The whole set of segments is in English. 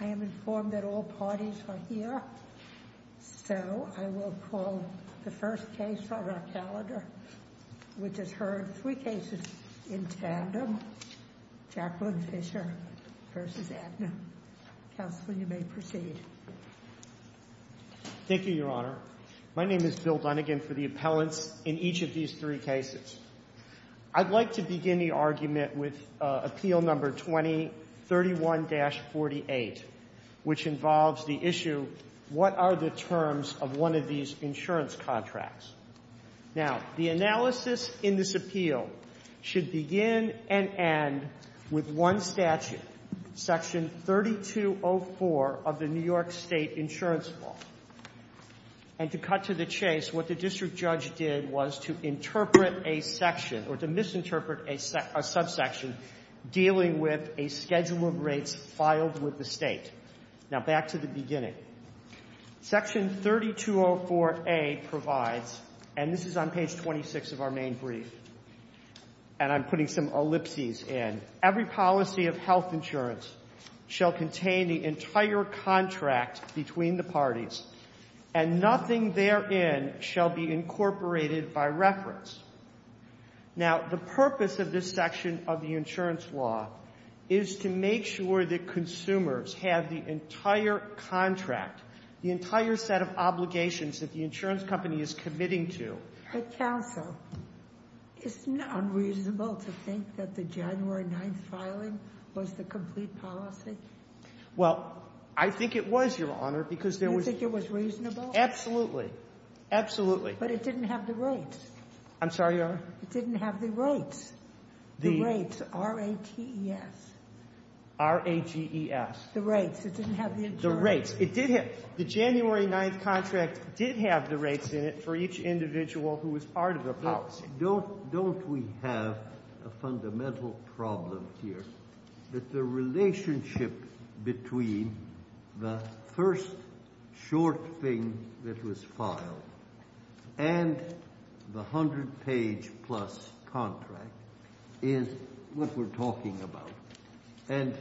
I am informed that all parties are here, so I will call the first case on our calendar, which has heard three cases in tandem, Jacqueline Fisher v. Aetna. Counsel, you may proceed. Thank you, Your Honor. My name is Bill Dunigan for the appellants in each of these three cases, and I will begin my argument with Appeal No. 2031-48, which involves the issue, what are the terms of one of these insurance contracts? Now, the analysis in this appeal should begin and end with one statute, Section 3204 of the New York State Insurance Law. And to cut to the chase, what the district judge did was to interpret a section or to subsection dealing with a schedule of rates filed with the state. Now, back to the beginning. Section 3204-A provides, and this is on page 26 of our main brief, and I'm putting some ellipses in. Every policy of health insurance shall contain the entire contract between the parties, and nothing therein shall be incorporated by reference. Now, the purpose of this section of the insurance law is to make sure that consumers have the entire contract, the entire set of obligations that the insurance company is committing to. But, counsel, isn't it unreasonable to think that the January 9th filing was the complete policy? Well, I think it was, Your Honor, because there was... You think it was reasonable? Absolutely. Absolutely. But it didn't have the rates. I'm sorry, Your Honor? It didn't have the rates. The rates. R-A-T-E-S. R-A-G-E-S. The rates. It didn't have the insurance. The rates. It did have... The January 9th contract did have the rates in it for each individual who was part of the policy. Don't we have a fundamental problem here that the relationship between the first short thing that was filed and the 100-page-plus contract is what we're talking about. And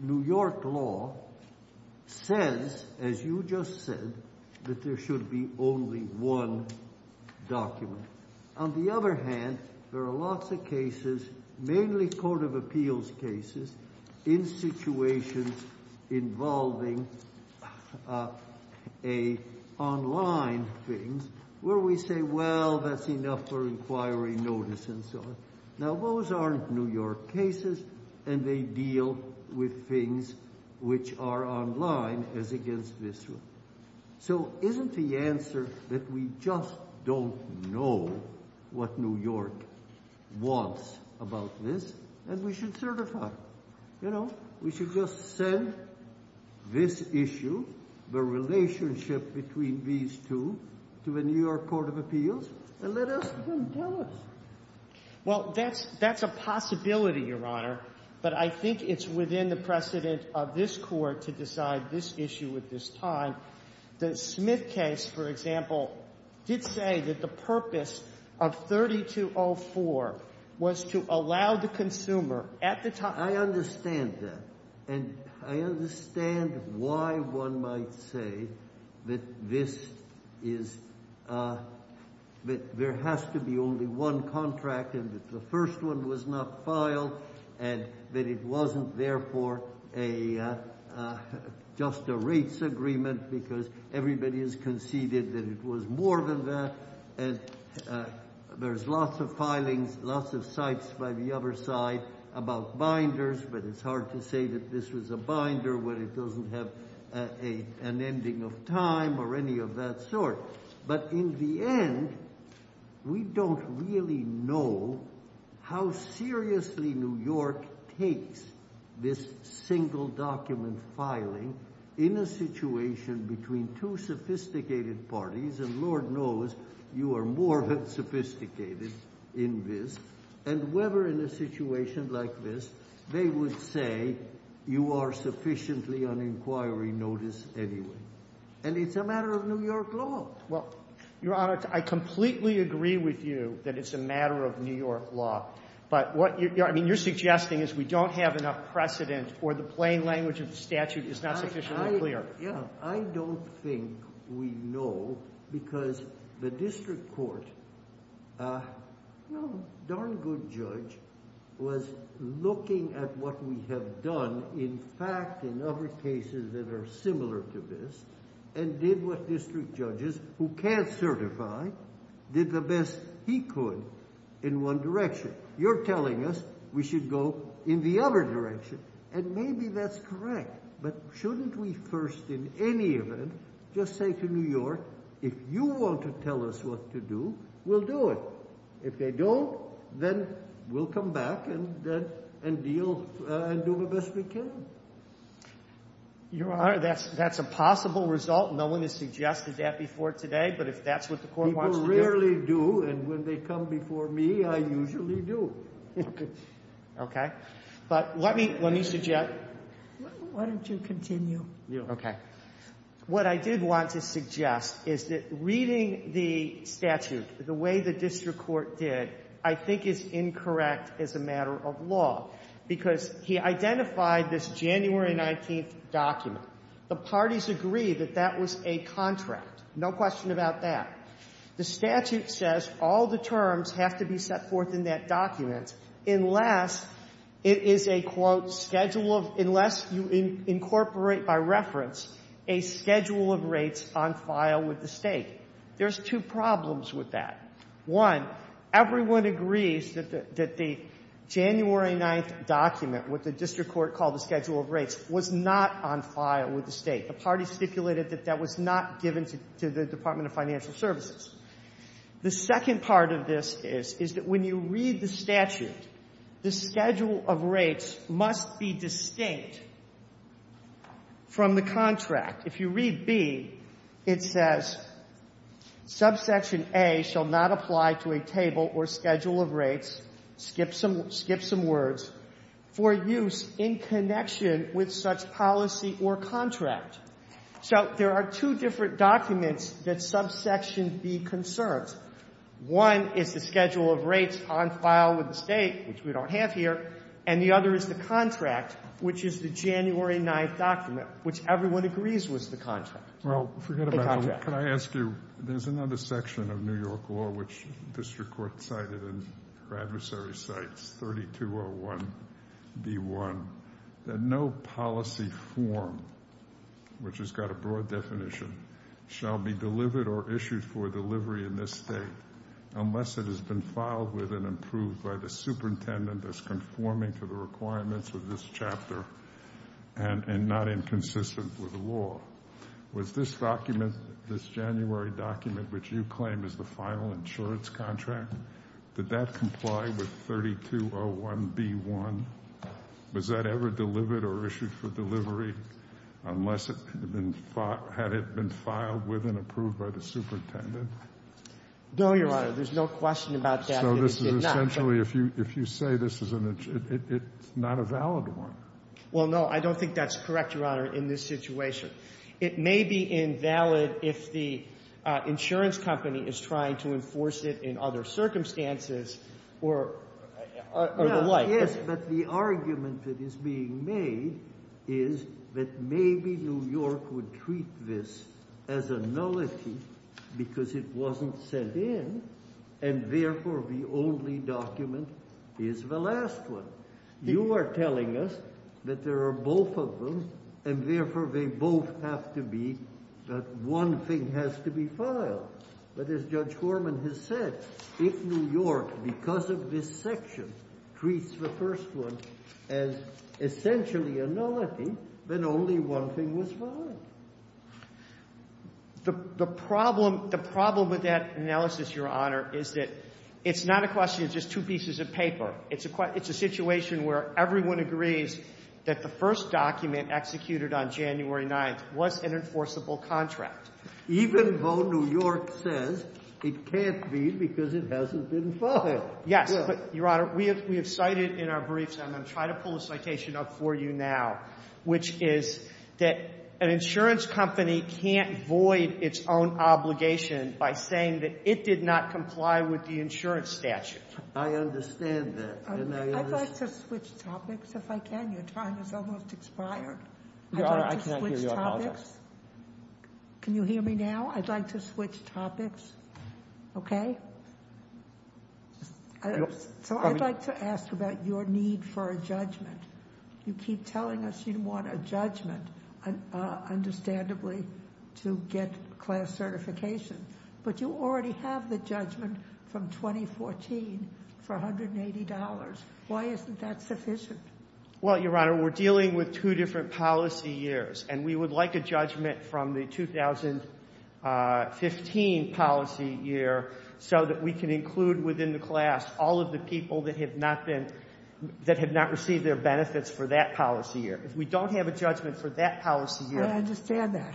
New York law says, as you just said, that there should be only one document. On the other hand, there are lots of cases, mainly court of appeals cases, in situations involving online things where we say, well, that's enough for inquiry notice and so on. Now, those aren't New York cases and they deal with things which are online as against this one. So, isn't the answer that we just don't know what New York wants about this and we should certify? You know, we should just send this issue, the relationship between these two, to the New York Court of Appeals. It's a possibility, Your Honor, but I think it's within the precedent of this court to decide this issue at this time. The Smith case, for example, did say that the purpose of 3204 was to allow the consumer at the time... I understand that. And I understand why one might say that there has to be only one contract and that the first one was not filed and that it wasn't, therefore, just a rates agreement because everybody has conceded that it was more than that. And there's lots of filings, lots of sites by the other side about binders, but it's hard to say that this was a binder when it really knows how seriously New York takes this single document filing in a situation between two sophisticated parties, and Lord knows you are more than sophisticated in this, and whether in a situation like this they would say you are sufficiently on inquiry notice anyway. And it's a matter of New York law. Well, Your Honor, I completely agree with you that it's a matter of New York law, but what you're suggesting is we don't have enough precedent or the plain language of the statute is not sufficiently clear. Yeah, I don't think we know because the district court, no darn good judge, was looking at what we have done in fact in other cases that are similar to this and did what district judges who can't certify did the best he could in one direction. You're telling us we should go in the other direction, and maybe that's correct, but shouldn't we first in any event just say to New York, if you want to tell us what to do, we'll do it. If they don't, then we'll come back and deal and do the best we can. Your Honor, that's a possible result. No one has suggested that before today, but if that's what the court wants to do. People rarely do, and when they come before me, I usually do. Okay. But let me suggest... Why don't you continue? Okay. What I did want to suggest is that reading the statute the way the district court did, I think is incorrect as a January 19th document. The parties agree that that was a contract. No question about that. The statute says all the terms have to be set forth in that document unless it is a, quote, schedule of, unless you incorporate by reference a schedule of rates on file with the State. There's two problems with that. One, everyone agrees that the January 9th document, what the district court called the schedule of rates, was not on file with the State. The party stipulated that that was not given to the Department of Financial Services. The second part of this is, is that when you read the statute, the schedule of rates must be distinct from the contract. If you read B, it says, subsection A shall not apply to a table or use in connection with such policy or contract. So there are two different documents that subsection B concerns. One is the schedule of rates on file with the State, which we don't have here, and the other is the contract, which is the January 9th document, which everyone agrees was the contract. Well, forget about it. The contract. Can I ask you, there's another section of New York law, which the district court cited in her adversary's cites, 3201B1, that no policy form, which has got a broad definition, shall be delivered or issued for delivery in this state unless it has been filed with and approved by the superintendent that's conforming to the requirements of this chapter and not inconsistent with the law. Was this document, this January document, which you claim is the final insurance contract, did that comply with 3201B1? Was that ever delivered or issued for delivery unless it had been filed with and approved by the superintendent? No, Your Honor. There's no question about that. So this is essentially, if you say this is an, it's not a valid one. Well, no, I don't think that's correct, Your Honor, in this situation. It may be invalid if the insurance company is trying to enforce it in other circumstances or the like. Yes, but the argument that is being made is that maybe New York would treat this as a nullity because it wasn't sent in and therefore the only document is the last one. You are telling us that there are both of them and therefore they both have to be, that one thing has to be filed. But as Judge Horman has said, if New York, because of this section, treats the first one as essentially a nullity, then only one thing was filed. The problem with that analysis, Your Honor, is that it's not a question of just two pieces of paper. It's a situation where everyone agrees that the first document executed on January 9th was an enforceable contract. Even though New York says it can't be because it hasn't been filed. Yes, but Your Honor, we have cited in our briefs, and I'm going to try to pull a citation up for you now, which is that an insurance company can't void its own obligation by saying that it did not comply with the insurance statute. I understand that. I'd like to switch topics, if I can. Your time has almost expired. Your Honor, I cannot give you an apology. Can you hear me now? I'd like to switch topics, okay? So I'd like to ask about your need for a judgment. You keep telling us you want a judgment, understandably, to get class certification, but you already have the judgment from 2014 for $180. Why isn't that sufficient? Well, Your Honor, we're dealing with two different policy years, and we would like a judgment from the 2015 policy year so that we can include within the class all of the people that have not received their benefits for that policy year. If we don't have a judgment for that policy year... I understand that,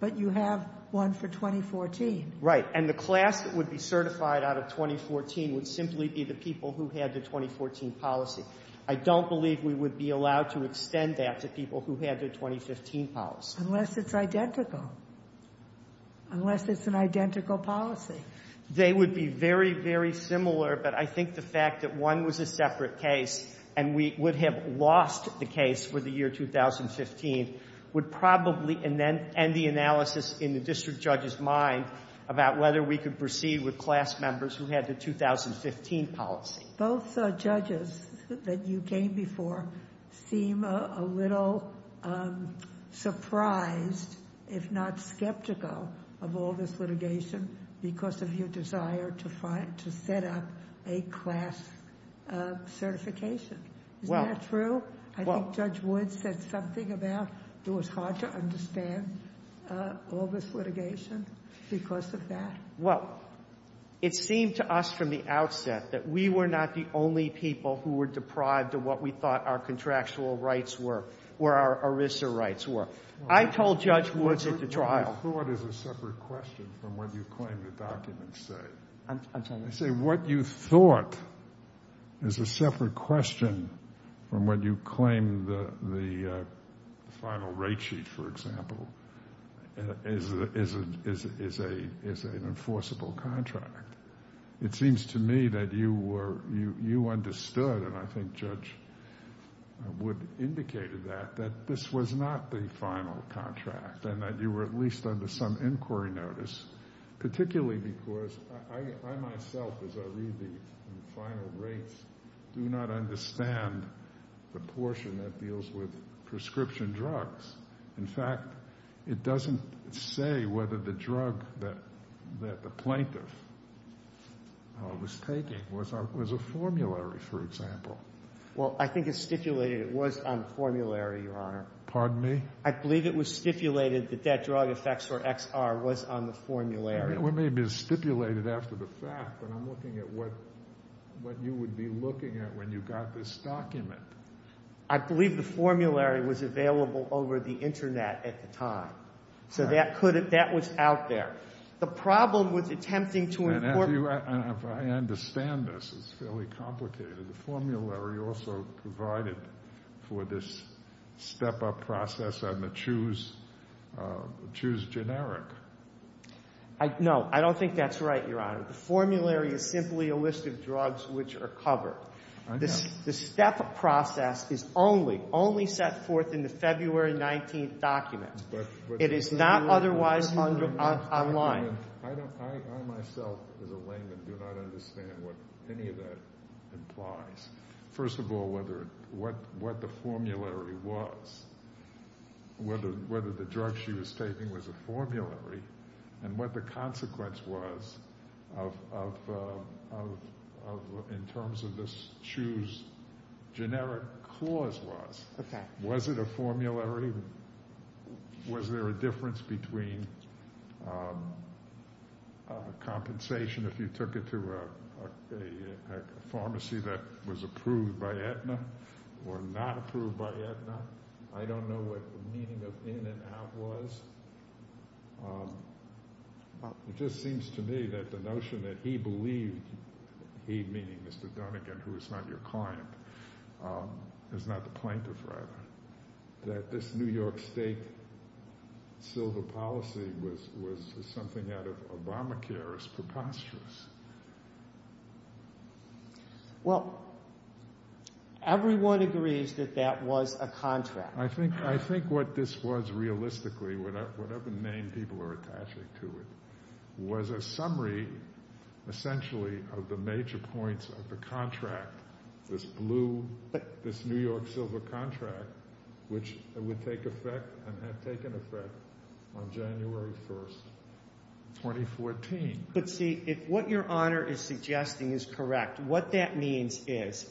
but you have one for 2014. Right, and the class that would be certified out of 2014 would simply be the people who had the 2014 policy. I don't believe we would be allowed to extend that to people who had their 2015 policy. Unless it's identical. Unless it's an identical policy. They would be very, very similar, but I think the fact that one was a separate case, and we would have lost the case for the year 2015, would probably end the analysis in the district judge's mind about whether we could proceed with class members who had the 2015 policy. Both judges that you came before seem a little surprised, if not skeptical, of all this litigation. Is that true? I think Judge Woods said something about it was hard to understand all this litigation because of that. Well, it seemed to us from the outset that we were not the only people who were deprived of what we thought our contractual rights were, or our ERISA rights were. I told Judge Woods at the trial... What you thought is a separate question from when you claim the final rate sheet, for example, is an enforceable contract. It seems to me that you understood, and I think Judge Woods indicated that, that this was not the final contract, and that you were at least under some inquiry notice, particularly because I myself, as I read the final rates, do not understand the portion that deals with prescription drugs. In fact, it doesn't say whether the drug that the plaintiff was taking was a formulary, for example. Well, I think it's stipulated it was on the formulary, Your Honor. Pardon me? I believe it was stipulated that that drug effects for XR was on the formulary. I believe it was stipulated after the fact, but I'm looking at what you would be looking at when you got this document. I believe the formulary was available over the internet at the time, so that was out there. The problem with attempting to... I understand this. It's fairly complicated. The formulary also provided for this step-up process on the choose generic. No, I don't think that's right, Your Honor. The formulary is simply a list of drugs which are covered. The step-up process is only set forth in the February 19th document. It is not otherwise online. I myself, as a layman, do not understand what any of that implies. First of all, what the drug she was taking was a formulary, and what the consequence was in terms of this choose generic clause was. Was it a formulary? Was there a difference between compensation if you took it to a pharmacy that was approved by Aetna or not approved by Aetna? I don't know what the meaning of in and out was. It just seems to me that the notion that he believed, he meaning Mr. Dunnigan who is not your client, is not the plaintiff rather, that this New York State silver policy was something out of Obamacare is preposterous. Well, everyone agrees that that was a contract. I think what this was realistically, whatever name people are attaching to it, was a summary essentially of the major points of the contract, this blue, this New York silver contract, which would take effect and had taken effect on is correct. What that means is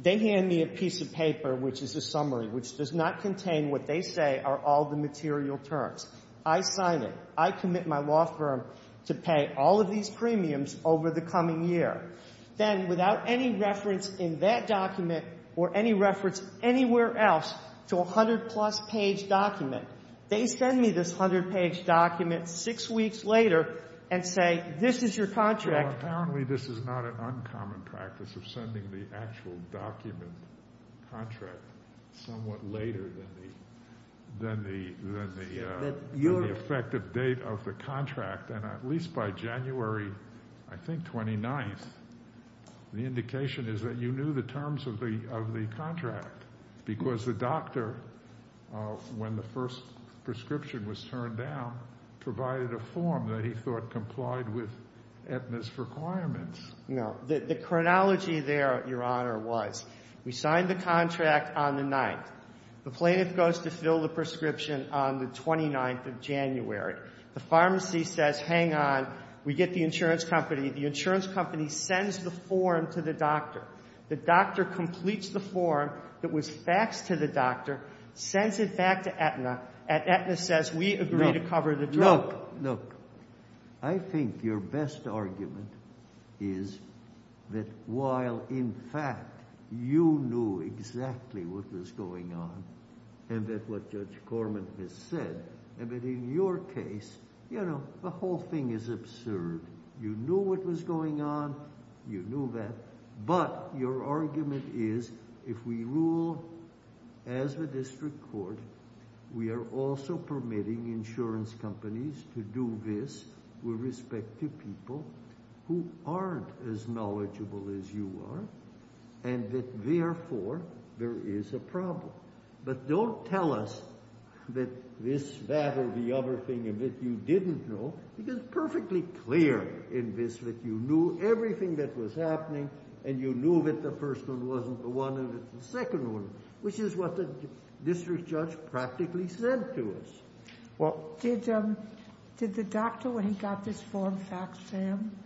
they hand me a piece of paper, which is a summary, which does not contain what they say are all the material terms. I sign it. I commit my law firm to pay all of these premiums over the coming year. Then, without any reference in that document or any reference anywhere else to a 100-plus page document, they send me this 100-page document six weeks later and say, this is your contract. Well, apparently this is not an uncommon practice of sending the actual document contract somewhat later than the effective date of the contract. At least by January, I think 29th, the indication is that you knew the terms of the contract because the doctor, when the first prescription was turned down, provided a form that he thought complied with Aetna's requirements. No. The chronology there, Your Honor, was we signed the contract on the 9th. The plaintiff goes to fill the prescription on the 29th of January. The pharmacy says, hang on, we get the insurance company. The insurance company sends the form to the doctor. The doctor completes the form that was faxed to the doctor, sends it back to Aetna, and Aetna says, we agree to cover the drug. Look, I think your best argument is that while, in fact, you knew exactly what was going on and that what Judge Corman has said, and that in your case, you know, the whole thing is absurd. You knew what was going on. You knew that. But your argument is, if we rule as the district court, we are also permitting insurance companies to do this with respect to people who aren't as knowledgeable as you are, and that therefore, there is a problem. But don't tell us that this, that, or the other thing of it you didn't know, because it's perfectly clear in this that you knew everything that was happening, and you knew that the first one wasn't the one, and the second one, which is what the district judge practically said to us. Well, did the doctor, when he got this form faxed to him,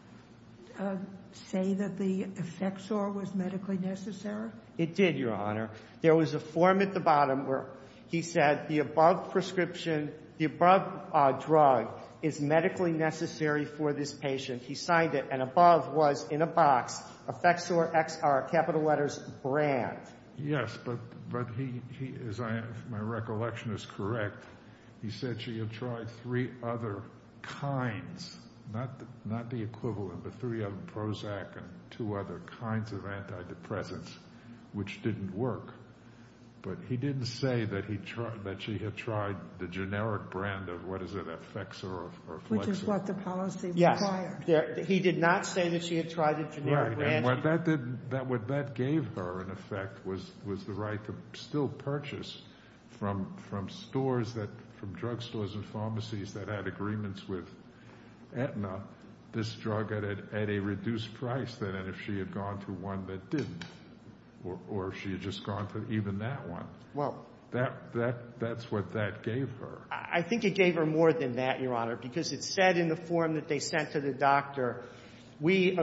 say that the effectsor was medically necessary? It did, Your Honor. There was a form at the bottom where he said the above prescription, the above drug is medically necessary for this patient. He signed it, and above was, in a box, effectsor XR, capital letters, brand. Yes, but he, as my recollection is correct, he said she had tried three other kinds, not the equivalent, but three of them, Prozac and two other kinds of antidepressants, which didn't work. But he didn't say that she had tried the generic brand of, what is it, effectsor or flexor. Which is what the policy required. Yes, he did not say that she had tried the generic brand. Right, and what that did, what that gave her, in effect, was the right to still purchase from stores, from drugstores and pharmacies that had agreements with she had gone to one that didn't, or she had just gone to even that one. That's what that gave her. I think it gave her more than that, Your Honor, because it said in the form that they sent to the doctor, we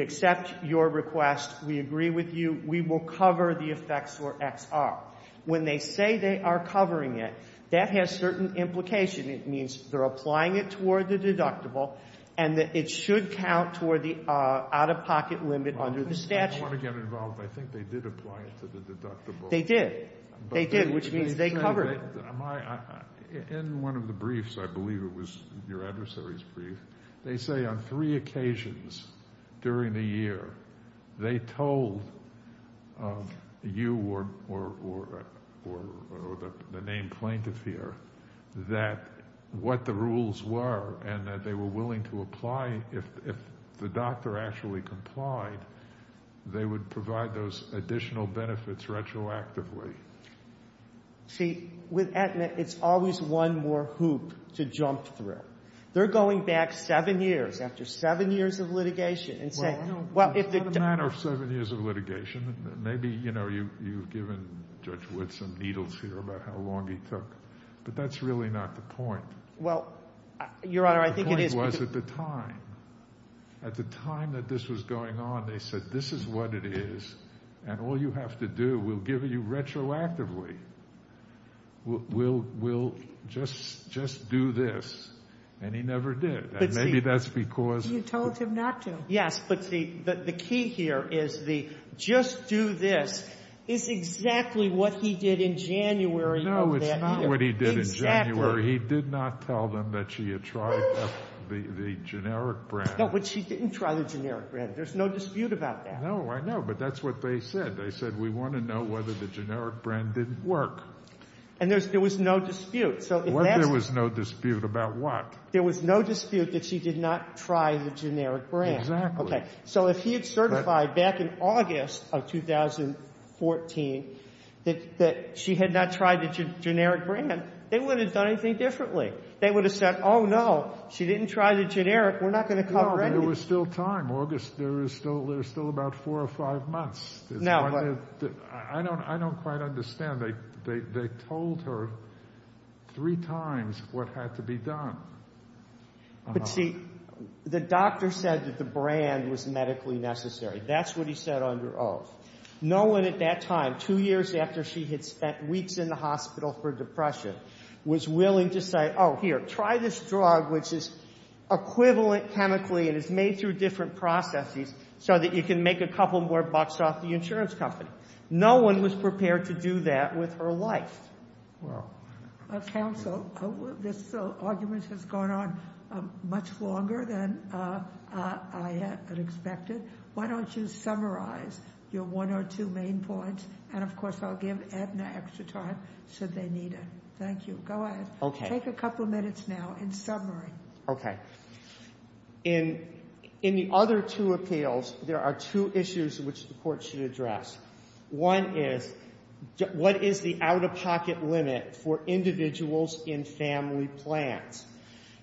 accept your request, we agree with you, we will cover the effectsor XR. When they say they are covering it, that has certain implication. It means they're applying it toward the deductible and that it should count toward the out-of-pocket limit under the statute. I don't want to get involved. I think they did apply it to the deductible. They did. They did, which means they covered it. In one of the briefs, I believe it was your adversary's brief, they say on three occasions during the year, they told you or the named plaintiff here that what the rules were and that they were willing to apply if the doctor actually complied, they would provide those additional benefits retroactively. See, with Aetna, it's always one more hoop to jump through. They're going back seven years, after seven years of litigation. Well, it's not a matter of seven years of litigation. Maybe you've given Judge Wood some needles here about how long he took, but that's really not the point. Well, Your Honor, I think it is. The point was at the time, at the time that this was going on, they said this is what it is and all you have to do, we'll give you retroactively. We'll just do this, and he never did, and maybe that's because... You told him not to. Yes, but the key here is the just do this is exactly what he did in January of that year. No, it's not what he did in January. He did not tell them that she had tried the generic brand. No, but she didn't try the generic brand. There's no dispute about that. No, I know, but that's what they said. They said, we want to know whether the generic brand didn't work. And there was no dispute. Well, there was no dispute about what? There was no dispute that she did not try the generic brand. Exactly. Okay, so if he had certified back in August of 2014 that she had not tried the generic brand, they wouldn't have done anything differently. They would have said, oh, no, she didn't try the generic. We're not going to cover it. There was still time. August, there's still about four or five months. Now, I don't quite understand. They told her three times what had to be done. But see, the doctor said that the brand was medically necessary. That's what he said under oath. No one at that time, two years after she had spent weeks in the hospital for depression, was willing to say, oh, here, try this drug, which is equivalent chemically and is made through different processes so that you can make a couple more bucks off the insurance company. No one was prepared to do that with her life. Counsel, this argument has gone on much longer than I had expected. Why don't you summarize your one or two main points? And of course, I'll give Edna extra time should they need it. Thank you. Go ahead. Take a couple of minutes now in summary. Okay. In the other two appeals, there are two issues which the Court should address. One is, what is the out-of-pocket limit for individuals in family plans?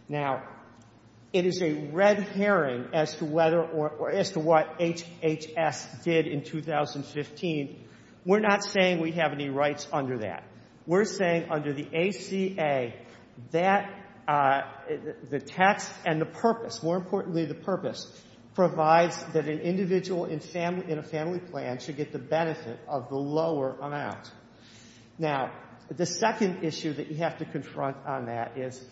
Now, it is a red herring as to whether or as to what HHS did in 2015. We're not saying we have any rights under that. We're saying under the ACA, the text and the purpose, more importantly the purpose, provides that an individual in a family plan should get the benefit of the lower amount. Now, the second issue that you have to confront on that is,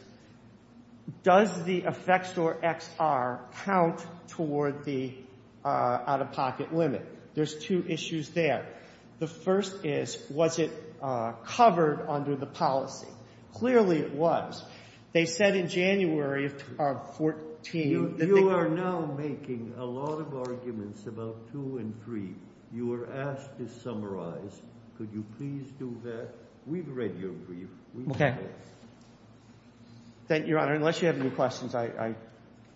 does the effector XR count toward the out-of-pocket limit? There's two issues there. The first is, was it covered under the policy? Clearly, it was. They said in January of 2014 that they- You are now making a lot of arguments about two and three. You were asked to summarize. Could you please do that? We've read your brief. Okay. Thank you, Your Honor. Unless you have any questions, I-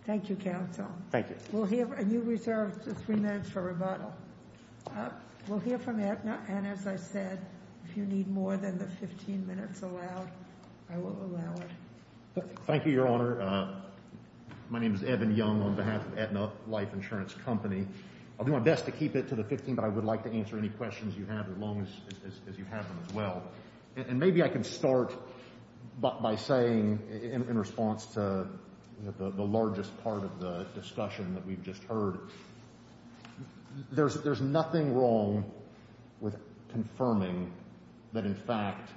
Thank you, counsel. Thank you. We'll hear- and you reserved three minutes for rebuttal. We'll hear from Aetna. And as I said, if you need more than the 15 minutes allowed, I will allow it. Thank you, Your Honor. My name is Evan Young on behalf of Aetna Life Insurance Company. I'll do my best to keep it to the 15, but I would like to answer any questions you have as long as you have them as well. Maybe I can start by saying, in response to the largest part of the discussion that we've just heard, there's nothing wrong with confirming that, in fact,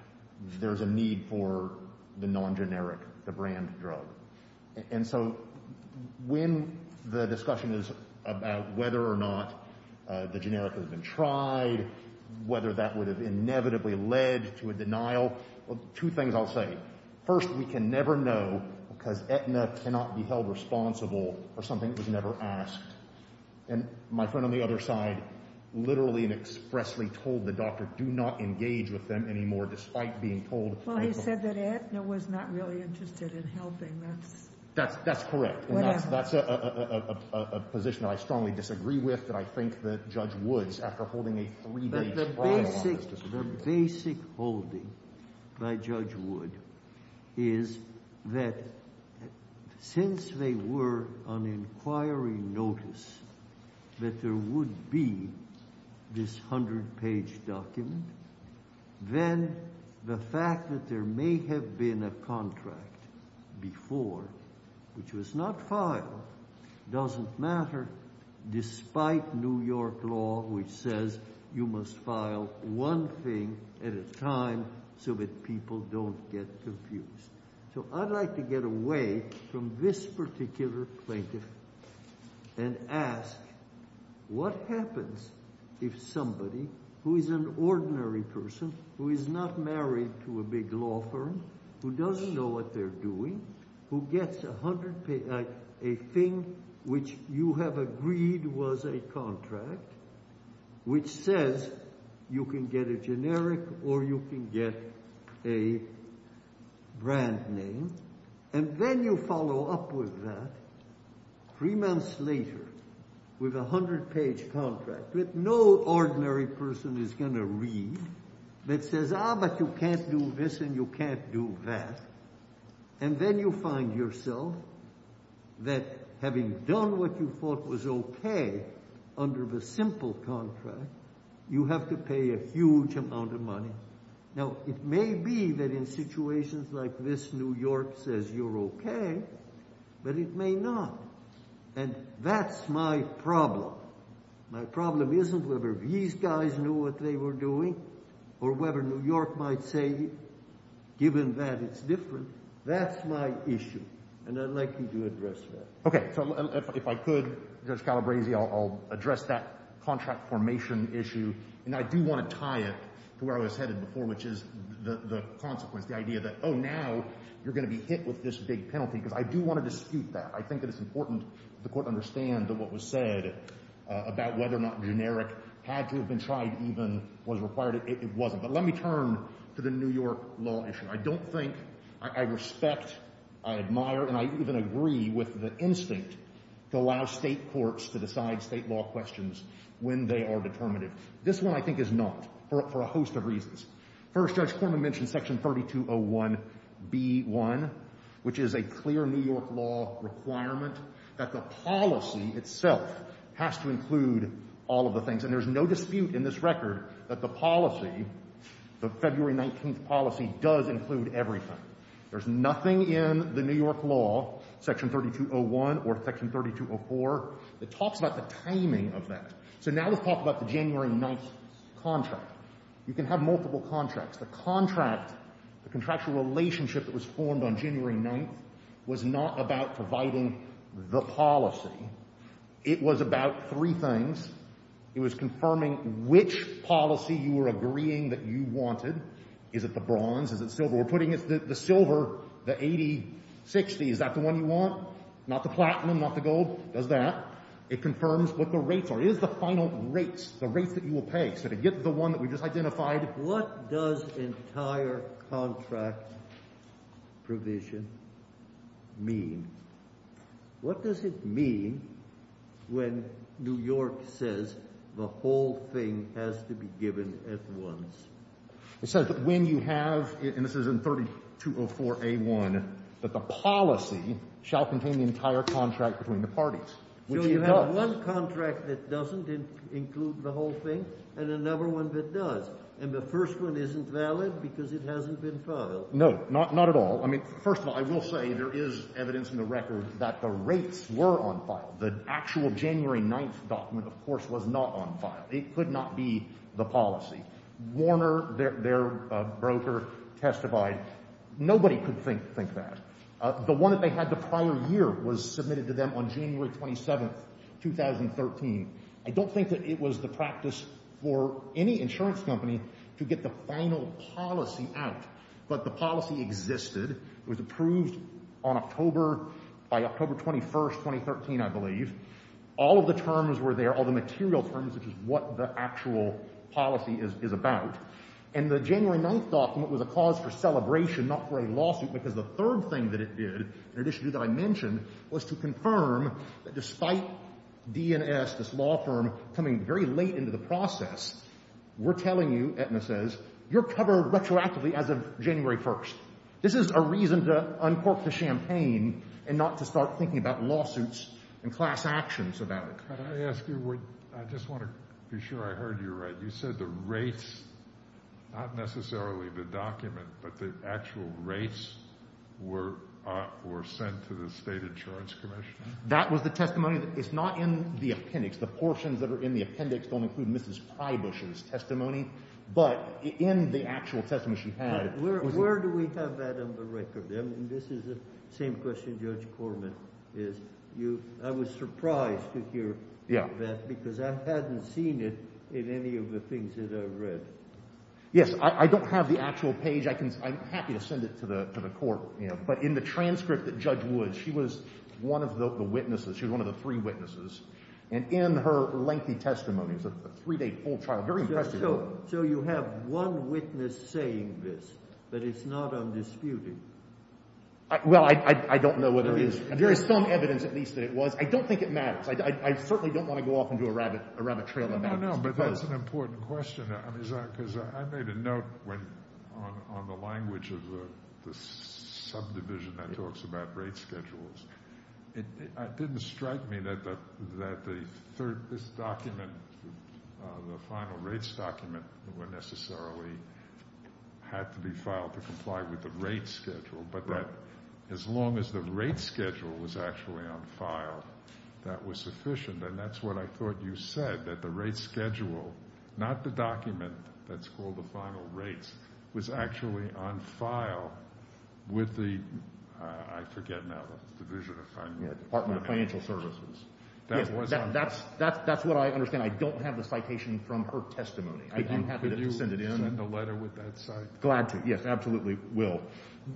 there's a need for the non-generic, the brand drug. And so when the discussion is about whether or not the generic has been tried, whether that would have inevitably led to a denial, two things I'll say. First, we can never know because Aetna cannot be held responsible for something that was never asked. And my friend on the other side literally and expressly told the doctor, do not engage with them anymore, despite being told- Well, he said that Aetna was not really interested in helping. That's- That's correct. And that's a position that I strongly disagree with, that I think that Judge Woods, after holding a three-day trial on this- The basic holding by Judge Wood is that since they were on inquiry notice that there would be this 100-page document, then the fact that there may have been a contract before, which was not filed, doesn't matter, despite New York law, which says you must file one thing at a time so that people don't get confused. So I'd like to get away from this particular plaintiff and ask, what happens if somebody who is an ordinary person, who is not married to a big law firm, who doesn't know what they're doing, who gets a thing which you have agreed was a contract, which says you can get a generic or you can get a brand name, and then you follow up with that three months later with a 100-page contract that no ordinary person is going to read, that says, ah, but you can't do this and you can't do that. And then you find yourself that having done what you thought was OK under the simple contract, you have to pay a huge amount of money. Now, it may be that in situations like this, New York says you're OK, but it may not. And that's my problem. My problem isn't whether these guys knew what they were doing or whether New York might say, given that it's different, that's my issue. And I'd like you to address that. OK. So if I could, Judge Calabresi, I'll address that contract formation issue. And I do want to tie it to where I was headed before, which is the consequence, the idea that, oh, now you're going to be hit with this big penalty. Because I do want to dispute that. I think that it's important that the court understand that what was said about whether or not generic had to have been tried even was required. It wasn't. But let me turn to the New York law issue. I don't think, I respect, I admire, and I even agree with the instinct to allow state courts to decide state law questions when they are determinative. This one, I think, is not, for a host of reasons. First, Judge Corman mentioned section 3201B1, which is a clear New York law requirement that the policy itself has to include all of the things. And there's no dispute in this record that the policy, the February 19th policy, does include everything. There's nothing in the New York law, section 3201 or section 3204, that talks about the timing of that. So now let's talk about the January 9th contract. You can have multiple contracts. The contract, the contractual relationship that was formed on January 9th, was not about providing the policy. It was about three things. It was confirming which policy you were agreeing that you wanted. Is it the bronze? Is it silver? We're putting the silver, the 80-60. Is that the one you want? Not the platinum? Not the gold? Does that. It confirms what the rates are. Is the final rates, the rates that you will pay. Is it the one that we just identified? What does entire contract provision mean? What does it mean when New York says the whole thing has to be given at once? It says that when you have, and this is in 3204A1, that the policy shall contain the entire contract between the parties. So you have one contract that doesn't include the whole thing and another one that does. And the first one isn't valid because it hasn't been filed. No, not at all. I mean, first of all, I will say there is evidence in the record that the rates were on file. The actual January 9th document, of course, was not on file. It could not be the policy. Warner, their broker, testified. Nobody could think that. The one that they had the prior year was submitted to them on January 27th, 2013. I don't think that it was the practice for any insurance company to get the final policy out. But the policy existed. It was approved on October, by October 21st, 2013, I believe. All of the terms were there, all the material terms, which is what the actual policy is about. And the January 9th document was a cause for celebration, not for a lawsuit, because the third thing that it did, in addition to what I mentioned, was to confirm that despite D&S, this law firm, coming very late into the process, we're telling you, Aetna says, you're covered retroactively as of January 1st. This is a reason to uncork the champagne and not to start thinking about lawsuits and class actions about it. Can I ask you, I just want to be sure I heard you right. You said the rates, not necessarily the document, but the actual rates were sent to the State Insurance Commission? That was the testimony? It's not in the appendix. The portions that are in the appendix don't include Mrs. Prybush's testimony, but in the actual testimony she had. Where do we have that on the record? I mean, this is the same question Judge Corman is, I was surprised to hear that because I don't have the things that I read. Yes, I don't have the actual page. I'm happy to send it to the court, but in the transcript that Judge Wood, she was one of the witnesses, she was one of the three witnesses, and in her lengthy testimony, it was a three-day full trial, very impressive. So you have one witness saying this, that it's not undisputed? Well, I don't know whether it is. There is some evidence, at least, that it was. I don't think it matters. I certainly don't want to go off into a rabbit trail of evidence. But that's an important question, because I made a note on the language of the subdivision that talks about rate schedules. It didn't strike me that this document, the final rates document, necessarily had to be filed to comply with the rate schedule, but that as long as the rate schedule was actually on file, that was sufficient. And that's what I thought you said, that the rate schedule, not the document that's called the final rates, was actually on file with the, I forget now, the division of financial services. That's what I understand. I don't have the citation from her testimony. I'm happy to send it in. Could you send in a letter with that citation? Glad to. Yes, absolutely will.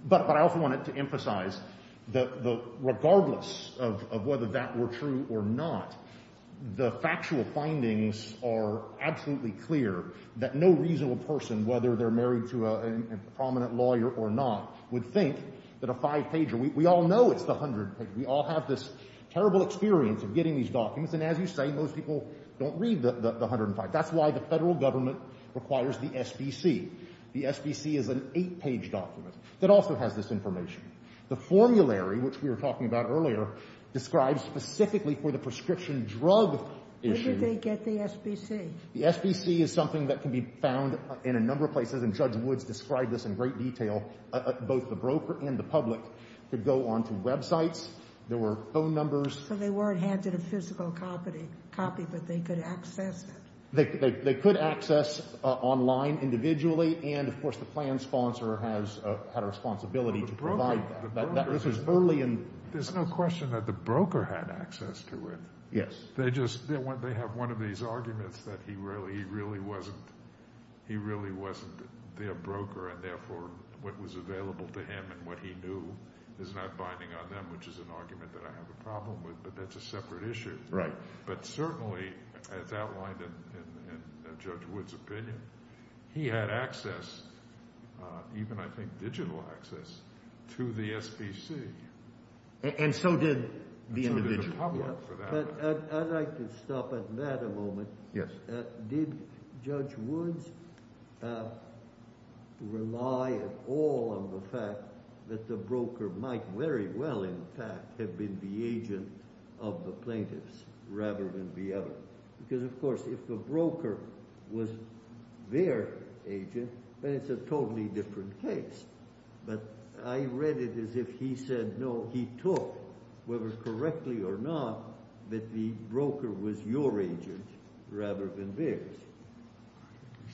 But I also wanted to emphasize that regardless of whether that were true or not, the factual findings are absolutely clear that no reasonable person, whether they're married to a prominent lawyer or not, would think that a five-pager, we all know it's the 100-pager. We all have this terrible experience of getting these documents, and as you say, most people don't read the 105. That's why the federal government requires the SBC. The SBC is an eight-page document that also has this information. The formulary, which we were talking about earlier, describes specifically for the prescription drug issue. Where did they get the SBC? The SBC is something that can be found in a number of places, and Judge Woods described this in great detail. Both the broker and the public could go onto websites. There were phone numbers. So they weren't handed a physical copy, but they could access it? They could access online individually, and of course, the plan sponsor has had a responsibility to provide that. There's no question that the broker had access to it. Yes. They have one of these arguments that he really wasn't their broker, and therefore what was available to him and what he knew is not binding on them, which is an argument that I have a problem with, but that's a separate issue. Right. But certainly, as outlined in Judge Woods' opinion, he had access, even I think digital access, to the SBC. And so did the individual? So did the public, for that matter. I'd like to stop at that a moment. Yes. Did Judge Woods rely at all on the fact that the broker might very well, in fact, have been the agent of the plaintiffs rather than the other? Because of course, if the broker was their agent, then it's a totally different case. But I read it as if he said, no, he took, whether correctly or not, that the broker was your agent rather than theirs.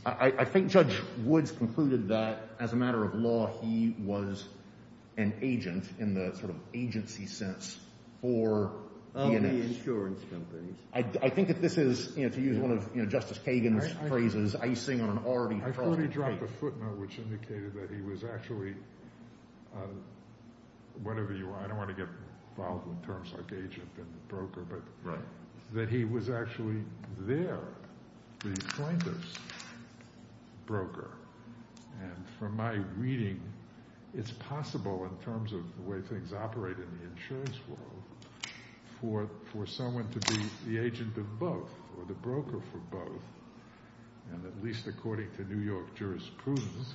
I think Judge Woods concluded that, as a matter of law, he was an agent in the sort of agency sense for P&S. Of the insurance companies. I think that this is, to use one of Justice Kagan's phrases, icing on an already frosted cake. I've already dropped a footnote which indicated that he was actually, whatever you want, I don't want to get involved with terms like agent and broker, but that he was actually their, the plaintiff's broker. And from my reading, it's possible in terms of the way things operate in the insurance world for someone to be the agent of both, or the broker for both. And at least according to New York jurisprudence,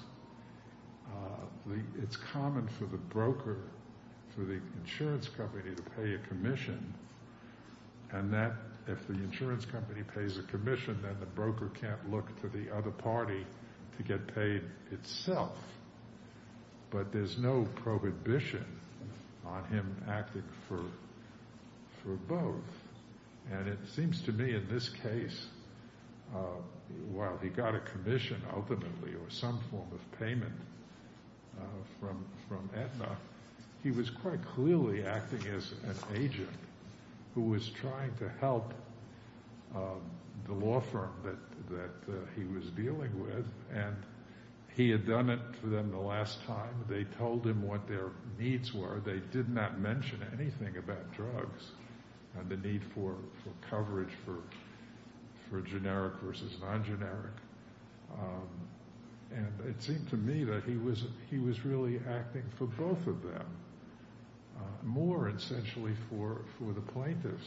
it's common for the broker, for the insurance company to pay a commission, and that if the insurance company pays a commission, then the broker can't look to the other party to get paid itself. But there's no prohibition on him acting for both. And it seems to me in this case, while he got a commission ultimately, or some form of payment from Aetna, he was quite clearly acting as an agent who was trying to help the law firm that he was dealing with. And he had done it for them the last time. They told him what their needs were. They did not mention anything about drugs and the need for coverage for generic versus non-generic. And it seemed to me that he was really acting for both of them, more essentially for the plaintiff.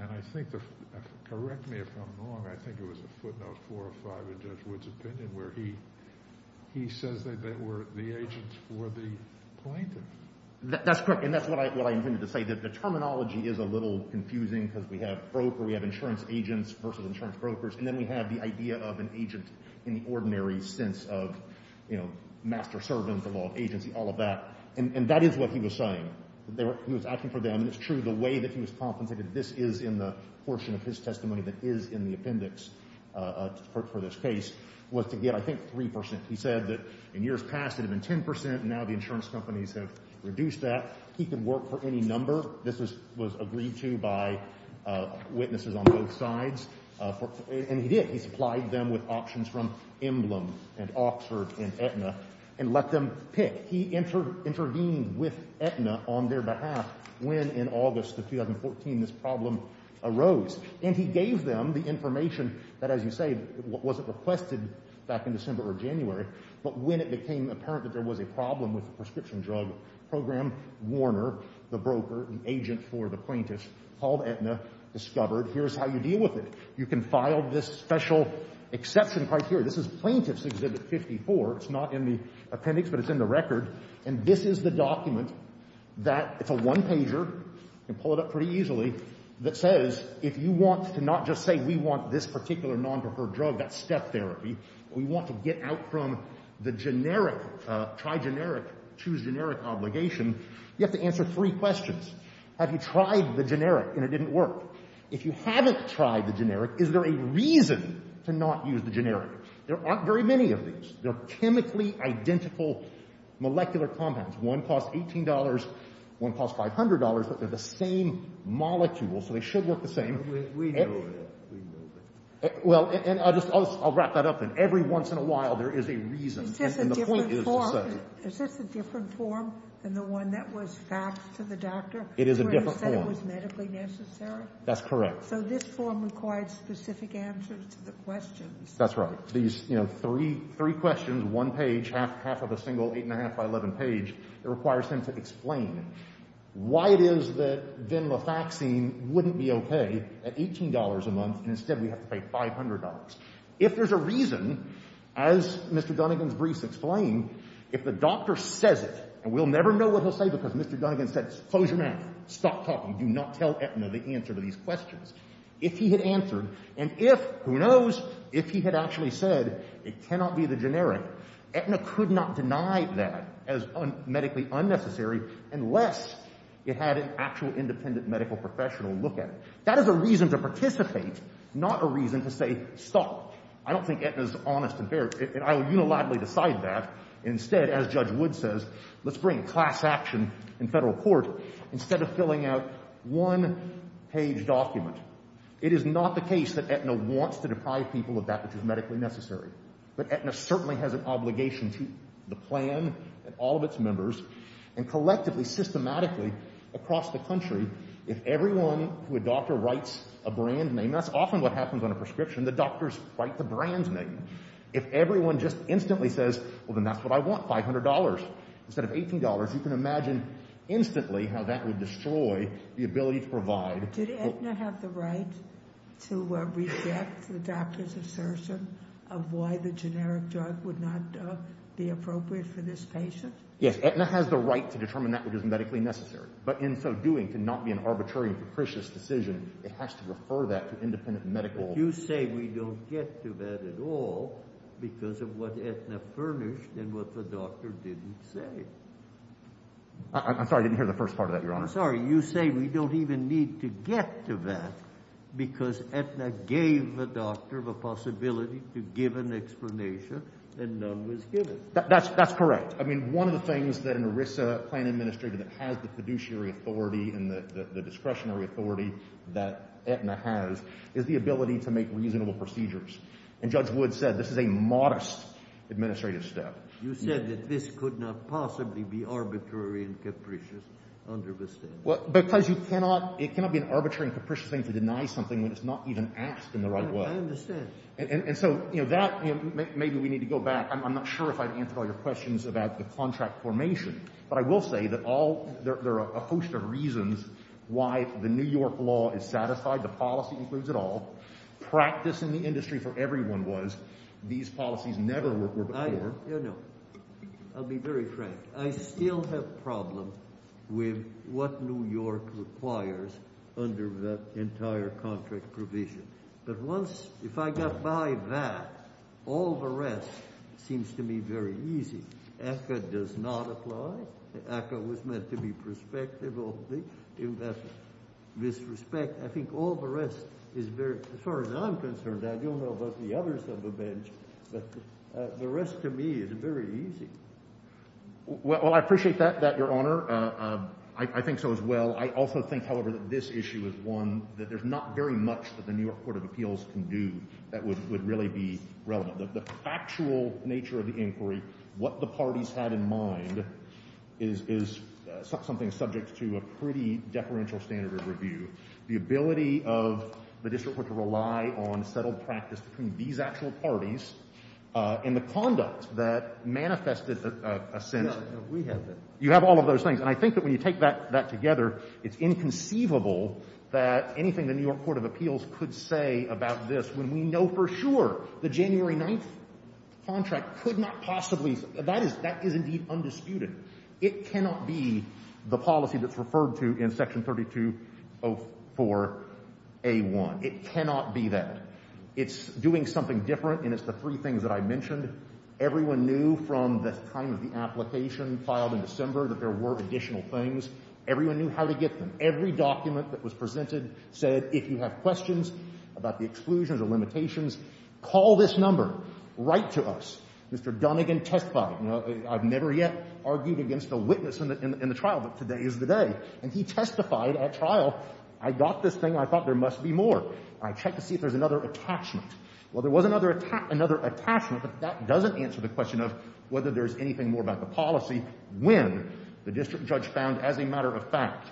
And I think, correct me if I'm wrong, I think it was a footnote 405 in Judge Wood's opinion where he says that the agents were the plaintiff. That's correct. And that's what I intended to say, that the terminology is a little confusing because we have broker, we have insurance agents versus insurance brokers, and then we have the idea of an agent in the ordinary sense of, you know, master servant, the law of agency, all of that. And that is what he was saying. He was acting for them. And it's true, the way that he was compensated, this is in the portion of his testimony that is in the appendix for this case, was to get, I think, 3%. He said that in years past it had been 10%, and now the insurance companies have reduced that. He could work for any number. This was agreed to by witnesses on both sides. And he did. He supplied them with options from Emblem and Oxford and Aetna and let them pick. He intervened with Aetna on their behalf when, in August of 2014, this problem arose. And he gave them the information that, as you say, wasn't requested back in December or January, but when it became apparent that there was a problem with the prescription drug program, Warner, the broker, the agent for the plaintiff, called Aetna, discovered, here's how you deal with it. You can file this special exception criteria. This is Plaintiff's Exhibit 54. It's not in the appendix, but it's in the record. And this is the document that, it's a one-pager, you can pull it up pretty easily, that says, if you want to not just say, we want this particular non-preferred drug, that's step therapy, but we want to get out from the generic, try generic, choose generic obligation, you have to answer three questions. Have you tried the generic and it didn't work? If you haven't tried the generic, is there a reason to not use the generic? There aren't very many of these. They're chemically identical molecular compounds. One costs $18, one costs $500, but they're the same molecule, so they should work the same. Well, and I'll just, I'll wrap that up. And every once in a while, there is a reason. Is this a different form than the one that was faxed to the doctor? It is a different form. That's correct. So this form requires specific answers to the questions. That's right. These three questions, one page, half of a single eight and a half by 11 page, it requires him to explain why it is that then the vaccine wouldn't be OK at $18 a month, and instead we have to pay $500. If there's a reason, as Mr. Dunnegan's briefs explain, if the doctor says it, and we'll never know what he'll say because Mr. Dunnegan said, close your mouth, stop talking, do not tell Aetna the answer to these questions. If he had answered, and if, who knows, if he had actually said it cannot be the generic, Aetna could not deny that as medically unnecessary unless it had an actual independent medical professional look at it. That is a reason to participate, not a reason to say stop. I don't think Aetna is honest and fair, and I will unilaterally decide that. Instead, as Judge Wood says, let's bring class action in federal court. Instead of filling out one page document, it is not the case that Aetna wants to deprive people of that which is medically necessary. But Aetna certainly has an obligation to the plan and all of its members, and collectively, systematically across the country, if everyone who a doctor writes a brand name, that's often what happens on a prescription, the doctors write the brand name. If everyone just instantly says, well, then that's what I want, $500, instead of $18, you can imagine instantly how that would destroy the ability to provide. Did Aetna have the right to reject the doctor's assertion of why the generic drug would not be appropriate for this patient? Yes, Aetna has the right to determine that which is medically necessary. But in so doing, to not be an arbitrary and capricious decision, it has to refer that to independent medical. But you say we don't get to that at all because of what Aetna furnished and what the doctor didn't say. I'm sorry, I didn't hear the first part of that, Your Honor. Sorry, you say we don't even need to get to that because Aetna gave the doctor the possibility to give an explanation and none was given. That's correct. I mean, one of the things that an ERISA plan administrator that has the fiduciary authority and the discretionary authority that Aetna has is the ability to make reasonable procedures. And Judge Wood said this is a modest administrative step. You said that this could not possibly be arbitrary and capricious under the statute. Because it cannot be an arbitrary and capricious thing to deny something when it's not even asked in the right way. I understand. And so that, maybe we need to go back. I'm not sure if I've answered all your questions about the contract formation. But I will say that there are a host of reasons why the New York law is satisfied, the policy includes it all. Practice in the industry for everyone was these policies never were before. You know, I'll be very frank. I still have a problem with what New York requires under that entire contract provision. But once, if I got by that, all the rest seems to me very easy. ACCA does not apply. ACCA was meant to be prospective only in that respect. I think all the rest is very, as far as I'm concerned, I don't know about the others but the rest to me is very easy. Well, I appreciate that, Your Honor. I think so as well. I also think, however, that this issue is one that there's not very much that the New York Court of Appeals can do that would really be relevant. The actual nature of the inquiry, what the parties had in mind, is something subject to a pretty deferential standard of review. The ability of the district court to rely on settled practice between these actual parties and the conduct that manifested a sense of... No, we have that. You have all of those things. And I think that when you take that together, it's inconceivable that anything the New York Court of Appeals could say about this when we know for sure the January 9th contract could not possibly... That is indeed undisputed. It cannot be the policy that's referred to in Section 3204A1. It cannot be that. It's doing something different, and it's the three things that I mentioned. Everyone knew from the time of the application filed in December that there were additional things. Everyone knew how to get them. Every document that was presented said, if you have questions about the exclusions or limitations, call this number. Write to us. Mr. Dunnigan, testify. I've never yet argued against a witness in the trial, but today is the day. And he testified at trial. I got this thing. I thought there must be more. I checked to see if there's another attachment. Well, there was another attachment, but that doesn't answer the question of whether there's anything more about the policy when the district judge found, as a matter of fact,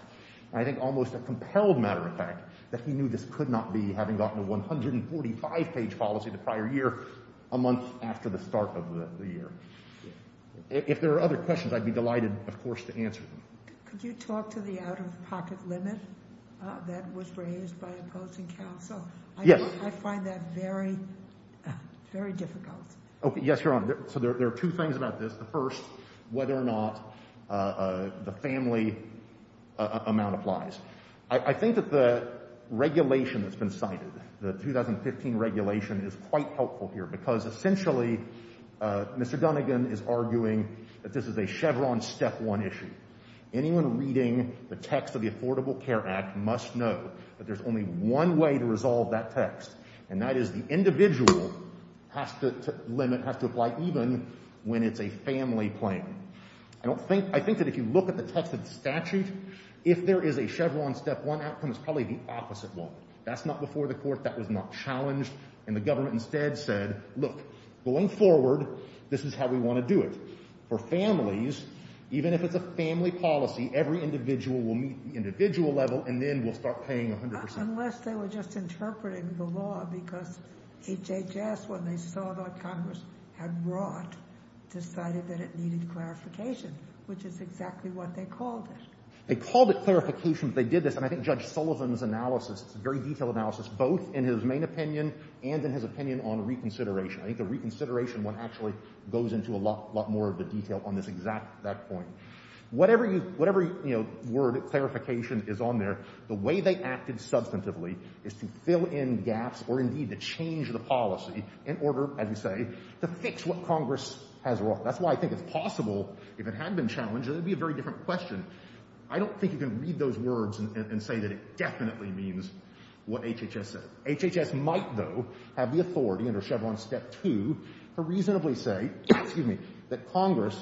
I think almost a compelled matter of fact, that he knew this could not be, having gotten a 145-page policy the prior year, a month after the start of the year. If there are other questions, I'd be delighted, of course, to answer them. Could you talk to the out-of-pocket limit that was raised by opposing counsel? Yes. I find that very, very difficult. Okay. Yes, Your Honor. So there are two things about this. The first, whether or not the family amount applies. I think that the regulation that's been cited, the 2015 regulation, is quite helpful here, because essentially, Mr. Dunnegan is arguing that this is a Chevron step one issue. Anyone reading the text of the Affordable Care Act must know that there's only one way to resolve that text, and that is the individual has to limit, has to apply, even when it's a family claim. I don't think, I think that if you look at the text of the statute, if there is a Chevron step one outcome, it's probably the opposite one. That's not before the court. That was not challenged. And the government instead said, look, going forward, this is how we want to do it. For families, even if it's a family policy, every individual will meet the individual level, and then we'll start paying 100 percent. Unless they were just interpreting the law, because HHS, when they saw that Congress had wrought, decided that it needed clarification, which is exactly what they called it. They called it clarification. They did this, and I think Judge Sullivan's analysis, it's a very detailed analysis, both in his main opinion and in his opinion on reconsideration. I think the reconsideration one actually goes into a lot, lot more of the detail on this exact, that point. Whatever you, whatever, you know, word of clarification is on there, the way they acted substantively is to fill in gaps or indeed to change the policy in order, as you say, to fix what Congress has wrought. That's why I think it's possible, if it had been challenged, that it would be a very different question. I don't think you can read those words and say that it definitely means what HHS said. HHS might, though, have the authority under Chevron Step 2 to reasonably say, excuse me, that Congress,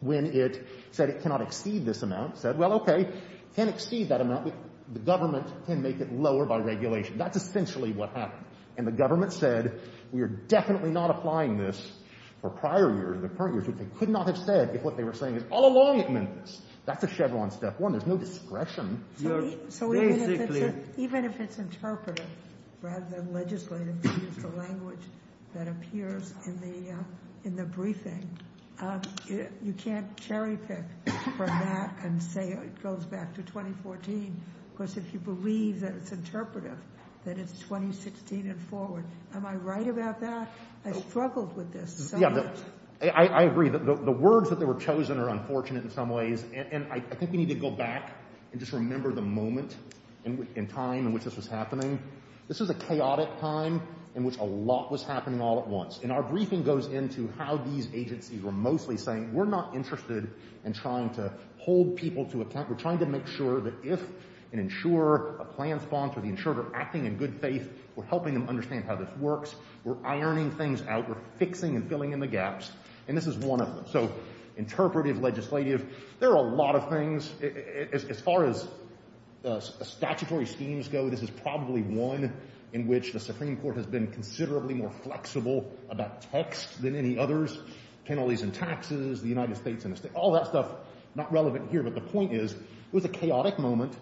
when it said it cannot exceed this amount, said, well, okay, it can exceed that amount, but the government can make it lower by regulation. That's essentially what happened. And the government said, we are definitely not applying this for prior years, the current years, which they could not have said if what they were saying is, all along it meant this. That's a Chevron Step 1. There's no discretion. So even if it's interpretive, rather than legislative, to use the language that appears in the briefing, you can't cherry pick from that and say it goes back to 2014, because if you believe that it's interpretive, that it's 2016 and forward. Am I right about that? I struggled with this so much. Yeah, I agree that the words that were chosen are unfortunate in some ways. I think we need to go back and just remember the moment and time in which this was happening. This was a chaotic time in which a lot was happening all at once. And our briefing goes into how these agencies were mostly saying, we're not interested in trying to hold people to account. We're trying to make sure that if an insurer, a plan sponsor, the insurer acting in good faith, we're helping them understand how this works. We're ironing things out. We're fixing and filling in the gaps. And this is one of them. Interpretive, legislative. There are a lot of things. As far as statutory schemes go, this is probably one in which the Supreme Court has been considerably more flexible about text than any others. Penalties and taxes, the United States, all that stuff, not relevant here. But the point is, it was a chaotic moment.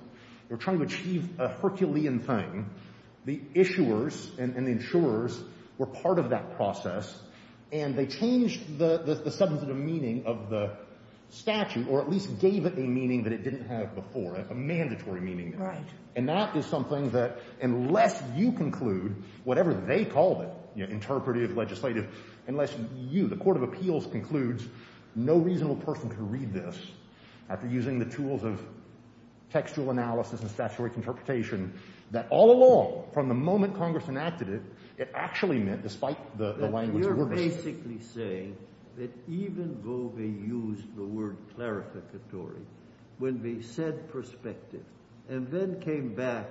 They were trying to achieve a Herculean thing. The issuers and the insurers were part of that process. And they changed the substantive meaning of the statute, or at least gave it a meaning that it didn't have before, a mandatory meaning. And that is something that unless you conclude, whatever they called it, interpretive, legislative, unless you, the Court of Appeals concludes, no reasonable person can read this after using the tools of textual analysis and statutory interpretation, that all along, from the moment Congress enacted it, it actually meant, despite the language— But you're basically saying that even though they used the word clarificatory, when they said prospective, and then came back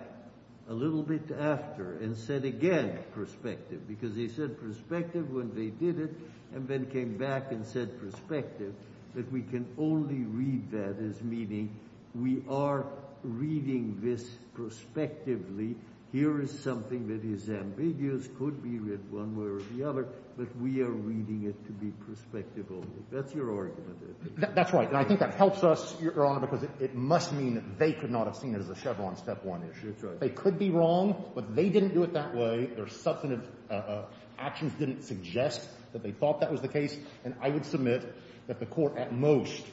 a little bit after and said again prospective, because they said prospective when they did it, and then came back and said prospective, that we can only read that as meaning we are reading this prospectively. Here is something that is ambiguous, could be read one way or the other, but we are reading it to be prospective only. That's your argument. That's right. And I think that helps us, Your Honor, because it must mean that they could not have seen it as a Chevron step one issue. That's right. They could be wrong, but they didn't do it that way. Their substantive actions didn't suggest that they thought that was the case. And I would submit that the Court, at most,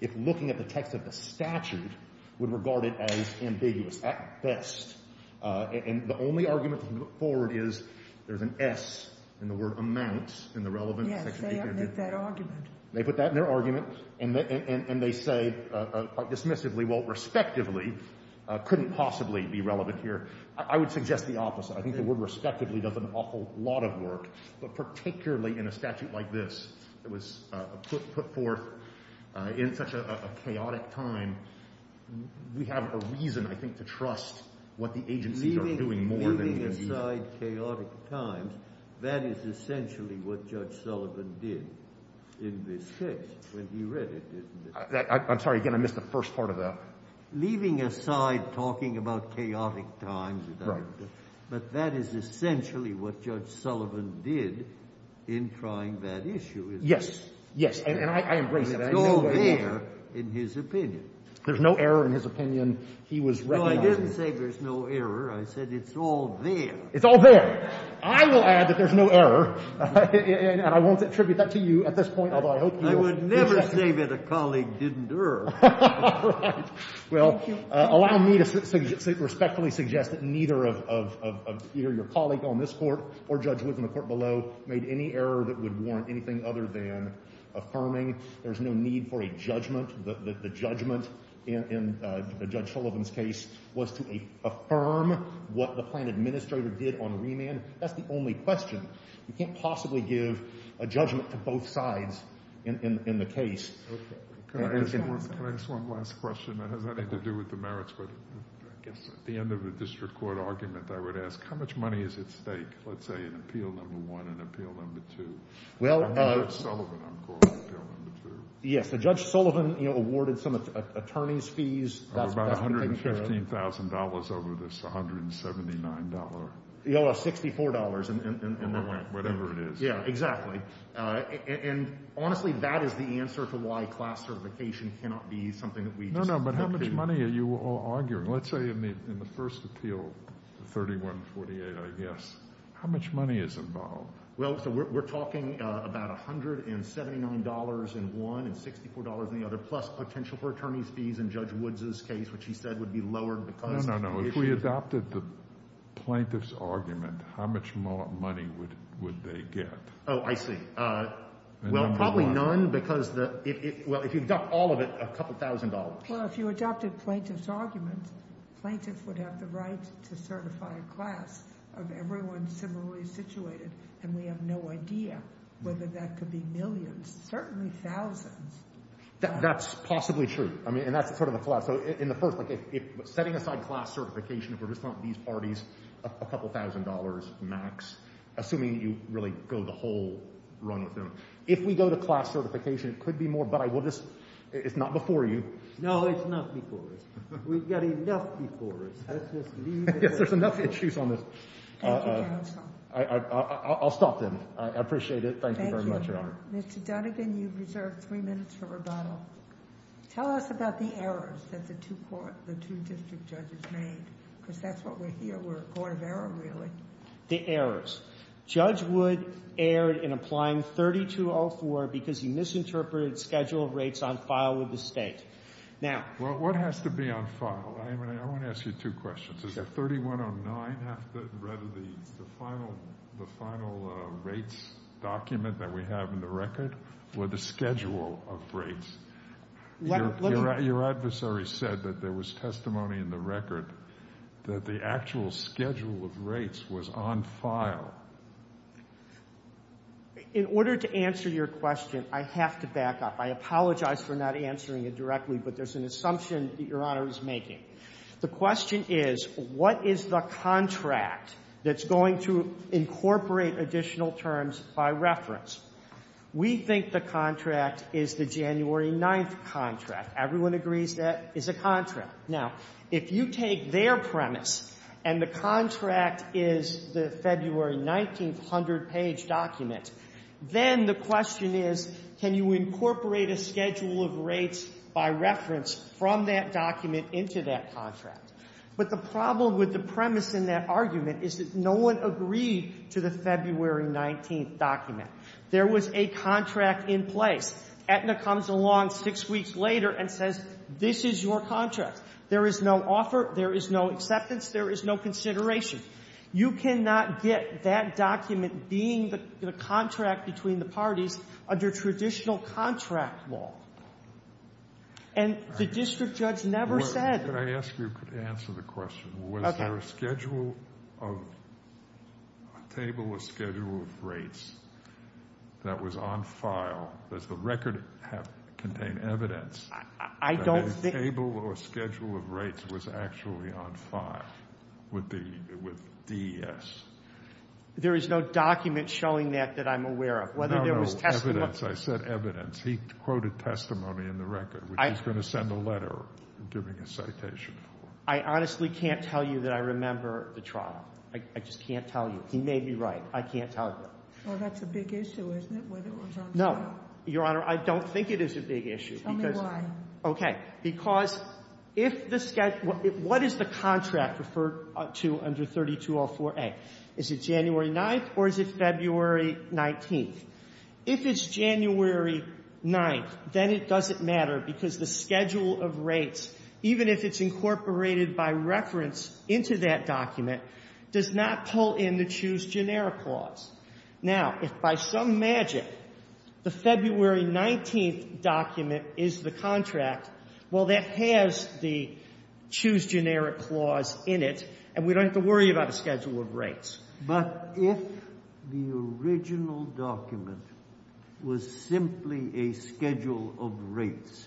if looking at the text of the statute, would regard it as ambiguous, at best. And the only argument that can be put forward is there's an S in the word amount in the relevant— Yes, they omit that argument. They put that in their argument, and they say quite dismissively, well, respectively, couldn't possibly be relevant here. I would suggest the opposite. I think the word respectively does an awful lot of work, but particularly in a statute like this that was put forth in such a chaotic time, we have a reason, I think, to trust what the agencies are doing more than— Leaving aside chaotic times, that is essentially what Judge Sullivan did in this case when he read it, isn't it? I'm sorry. Again, I missed the first part of that. Leaving aside talking about chaotic times, but that is essentially what Judge Sullivan did in trying that issue, isn't it? Yes. Yes. And I embrace it. It's all there in his opinion. There's no error in his opinion. He was recognizing— No, I didn't say there's no error. I said it's all there. It's all there. I will add that there's no error, and I won't attribute that to you at this point, although I hope you'll— I would never say that a colleague didn't err. Right. Well, allow me to respectfully suggest that neither of — either your colleague on this court or Judge Wood in the court below made any error that would warrant anything other than affirming. There's no need for a judgment. The judgment in Judge Sullivan's case was to affirm what the plan administrator did on remand. That's the only question. You can't possibly give a judgment to both sides in the case. Okay. Can I ask one last question that has nothing to do with the merits, but I guess at the end of the district court argument, I would ask how much money is at stake, let's say, in Appeal No. 1 and Appeal No. 2? Well— I'm not Judge Sullivan. I'm calling it Appeal No. 2. Yes, Judge Sullivan awarded some attorneys' fees. That's been taken care of. About $115,000 over this $179. No, $64 in that one. Whatever it is. Yeah, exactly. And honestly, that is the answer to why class certification cannot be something that we just— No, no, but how much money are you all arguing? Let's say in the first appeal, 3148, I guess, how much money is involved? Well, so we're talking about $179 in one and $64 in the other, plus potential for attorneys' fees in Judge Woods' case, which he said would be lowered because— No, no, no. If we adopted the plaintiff's argument, how much more money would they get? Oh, I see. Well, probably none because— Well, if you adopt all of it, a couple thousand dollars. Well, if you adopted plaintiff's argument, plaintiff would have the right to certify a class of everyone similarly situated, and we have no idea whether that could be millions, certainly thousands. That's possibly true. I mean, and that's sort of the class. So in the first, like if— setting aside class certification, if we're just talking about these parties, a couple thousand dollars max, assuming you really go the whole run with them. If we go to class certification, it could be more, but I will just— it's not before you. No, it's not before us. We've got enough before us. Let's just leave it— Yes, there's enough issues on this. Thank you, counsel. I'll stop then. I appreciate it. Thank you very much, Your Honor. Mr. Dunnigan, you've reserved three minutes for rebuttal. Tell us about the errors that the two court— the two district judges made, because that's what we're here— we're a court of error, really. The errors. Judge Wood erred in applying 3204 because he misinterpreted scheduled rates on file with the state. Now— What has to be on file? I want to ask you two questions. Does the 3109 have to— rather, the final rates document that we have in the record for the schedule of rates? Your adversary said that there was testimony in the record that the actual schedule of rates was on file. In order to answer your question, I have to back up. I apologize for not answering it directly, but there's an assumption that Your Honor is making. The question is, what is the contract that's going to incorporate additional terms by reference? We think the contract is the January 9th contract. Everyone agrees that is a contract. Now, if you take their premise and the contract is the February 19th 100-page document, then the question is, can you incorporate a schedule of rates by reference from that document into that contract? But the problem with the premise in that argument is that no one agreed to the February 19th document. There was a contract in place. Aetna comes along six weeks later and says, this is your contract. There is no offer. There is no acceptance. There is no consideration. You cannot get that document being the contract between the parties under traditional contract law. And the district judge never said. Can I ask you to answer the question? Was there a schedule of, a table or schedule of rates that was on file? Does the record contain evidence that a table or schedule of rates was actually on file with DES? There is no document showing that that I'm aware of. No, no, evidence. I said evidence. He quoted testimony in the record, which he's going to send a letter giving a citation for. I honestly can't tell you that I remember the trial. I just can't tell you. He may be right. I can't tell you. Well, that's a big issue, isn't it, whether it was on file? No, Your Honor. I don't think it is a big issue. Tell me why. Okay. Because if the schedule, what is the contract referred to under 3204A? Is it January 9th or is it February 19th? If it's January 9th, then it doesn't matter because the schedule of rates, even if it's incorporated by reference into that document, does not pull in the choose generic clause. Now, if by some magic the February 19th document is the contract, well, that has the choose generic clause in it, and we don't have to worry about a schedule of rates. But if the original document was simply a schedule of rates,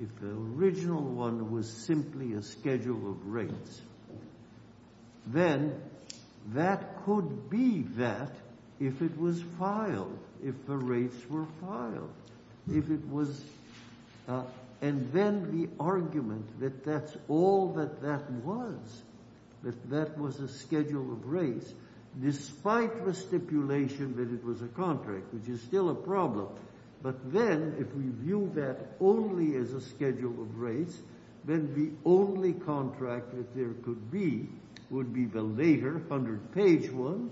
if the original one was simply a schedule of rates, then that could be that if it was filed, if the rates were filed, if it was... And then the argument that that's all that that was, that that was a schedule of rates, despite the stipulation that it was a contract, which is still a problem. But then if we view that only as a schedule of rates, then the only contract that there could be would be the later 100-page one,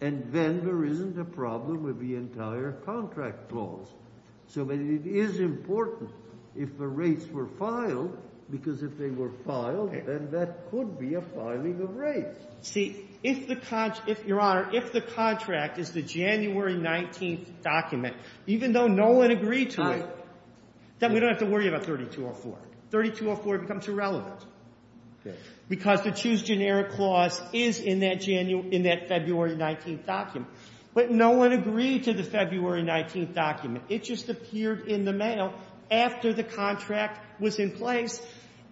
and then there isn't a problem with the entire contract clause. So it is important if the rates were filed, because if they were filed, then that could be a filing of rates. See, if the contract... Your Honor, if the contract is the January 19th document, even though no one agreed to it, then we don't have to worry about 3204. 3204 becomes irrelevant, because the choose generic clause is in that February 19th document. But no one agreed to the February 19th document. It just appeared in the mail after the contract was in place,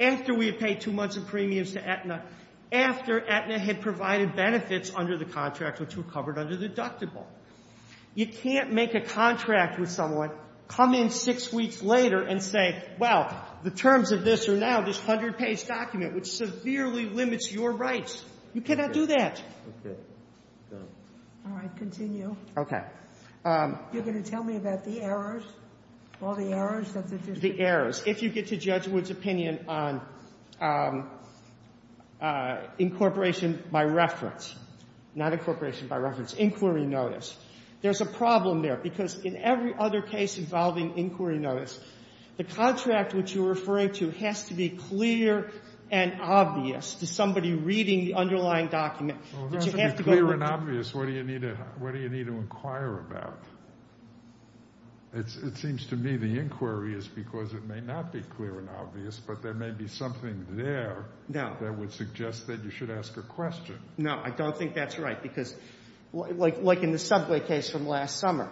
after we had paid two months of premiums to Aetna, after Aetna had provided benefits under the contract, which were covered under the deductible. You can't make a contract with someone, come in six weeks later, and say, well, the terms of this are now this 100-page document, which severely limits your rights. You cannot do that. Okay. All right, continue. Okay. You're going to tell me about the errors, all the errors that the district... Incorporation by reference. Not incorporation by reference. Inquiry notice. There's a problem there, because in every other case involving inquiry notice, the contract which you're referring to has to be clear and obvious to somebody reading the underlying document. Well, if it has to be clear and obvious, what do you need to inquire about? It seems to me the inquiry is because it may not be clear and obvious, but there may be something there that would suggest that you should ask a question. No, I don't think that's right, because like in the subway case from last summer,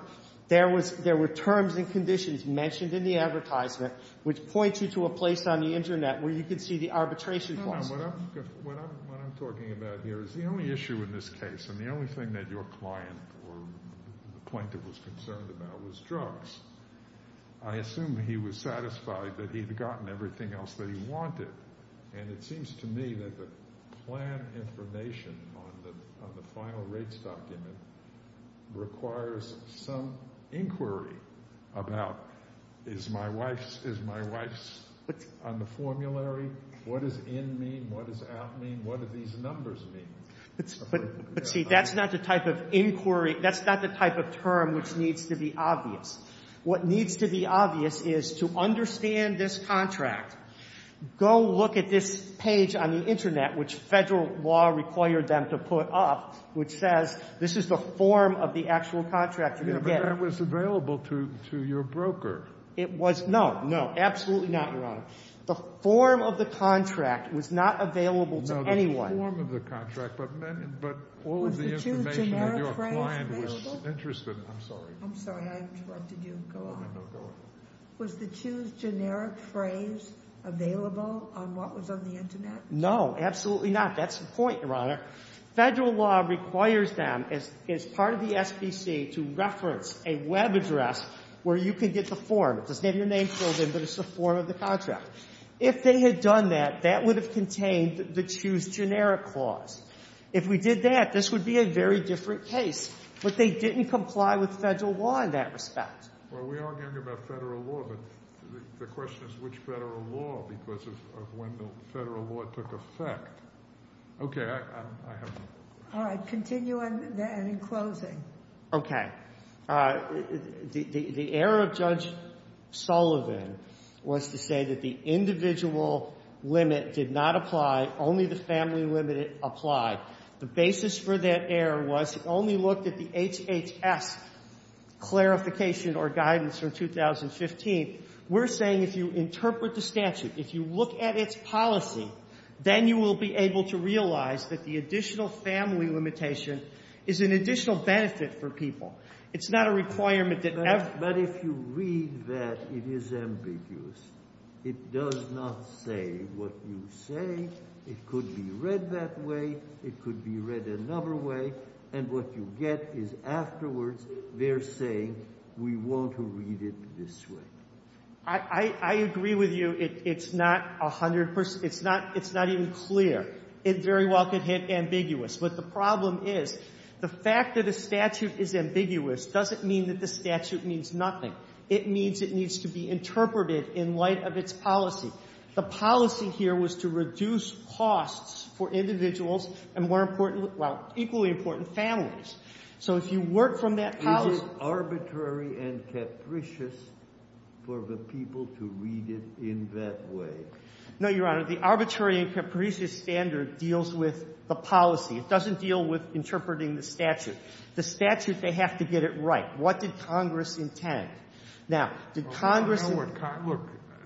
there were terms and conditions mentioned in the advertisement which point you to a place on the internet where you could see the arbitration process. No, no, what I'm talking about here is the only issue in this case, and the only thing that your client or the plaintiff was concerned about was drugs. I assume he was satisfied that he'd gotten everything else that he wanted, and it seems to me that the plan information on the final rates document requires some inquiry about is my wife's on the formulary? What does in mean? What does out mean? What do these numbers mean? But see, that's not the type of inquiry... What needs to be obvious is to understand this contract. Go look at this page on the internet, which federal law required them to put up, which says this is the form of the actual contract you're going to get. But that was available to your broker. It was. No, no, absolutely not, Your Honor. The form of the contract was not available to anyone. No, the form of the contract, but all of the information that your client was interested in. I'm sorry. I'm sorry. I interrupted you. Go on. Was the choose generic phrase available on what was on the internet? No, absolutely not. That's the point, Your Honor. Federal law requires them, as part of the SPC, to reference a web address where you can get the form. It doesn't have your name filled in, but it's the form of the contract. If they had done that, that would have contained the choose generic clause. If we did that, this would be a very different case. But they didn't comply with federal law in that respect. Well, we are arguing about federal law, but the question is which federal law, because of when the federal law took effect. OK. All right. Continue, and then in closing. OK. The error of Judge Sullivan was to say that the individual limit did not apply. Only the family limit applied. The basis for that error was it only looked at the HHS clarification or guidance from 2015. We're saying if you interpret the statute, if you look at its policy, then you will be able to realize that the additional family limitation is an additional benefit for people. It's not a requirement that every— But if you read that, it is ambiguous. It does not say what you say. It could be read that way. It could be read another way. And what you get is afterwards they're saying we want to read it this way. I agree with you. It's not 100 percent. It's not even clear. It very well could hit ambiguous. But the problem is the fact that a statute is ambiguous doesn't mean that the statute means nothing. It means it needs to be interpreted in light of its policy. The policy here was to reduce costs for individuals and more important—well, equally important, families. So if you work from that policy— Is it arbitrary and capricious for the people to read it in that way? No, Your Honor. The arbitrary and capricious standard deals with the policy. It doesn't deal with interpreting the statute. The statute, they have to get it right. What did Congress intend? Now, did Congress— Look,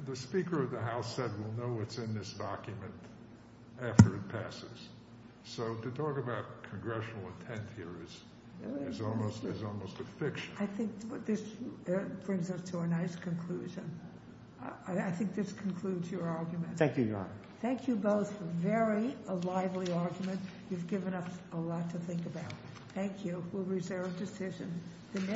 the Speaker of the House said we'll know what's in this document after it passes. So to talk about congressional intent here is almost a fiction. I think this brings us to a nice conclusion. I think this concludes your argument. Thank you, Your Honor. Thank you both for a very lively argument. You've given us a lot to think about. Thank you. We'll reserve a decision.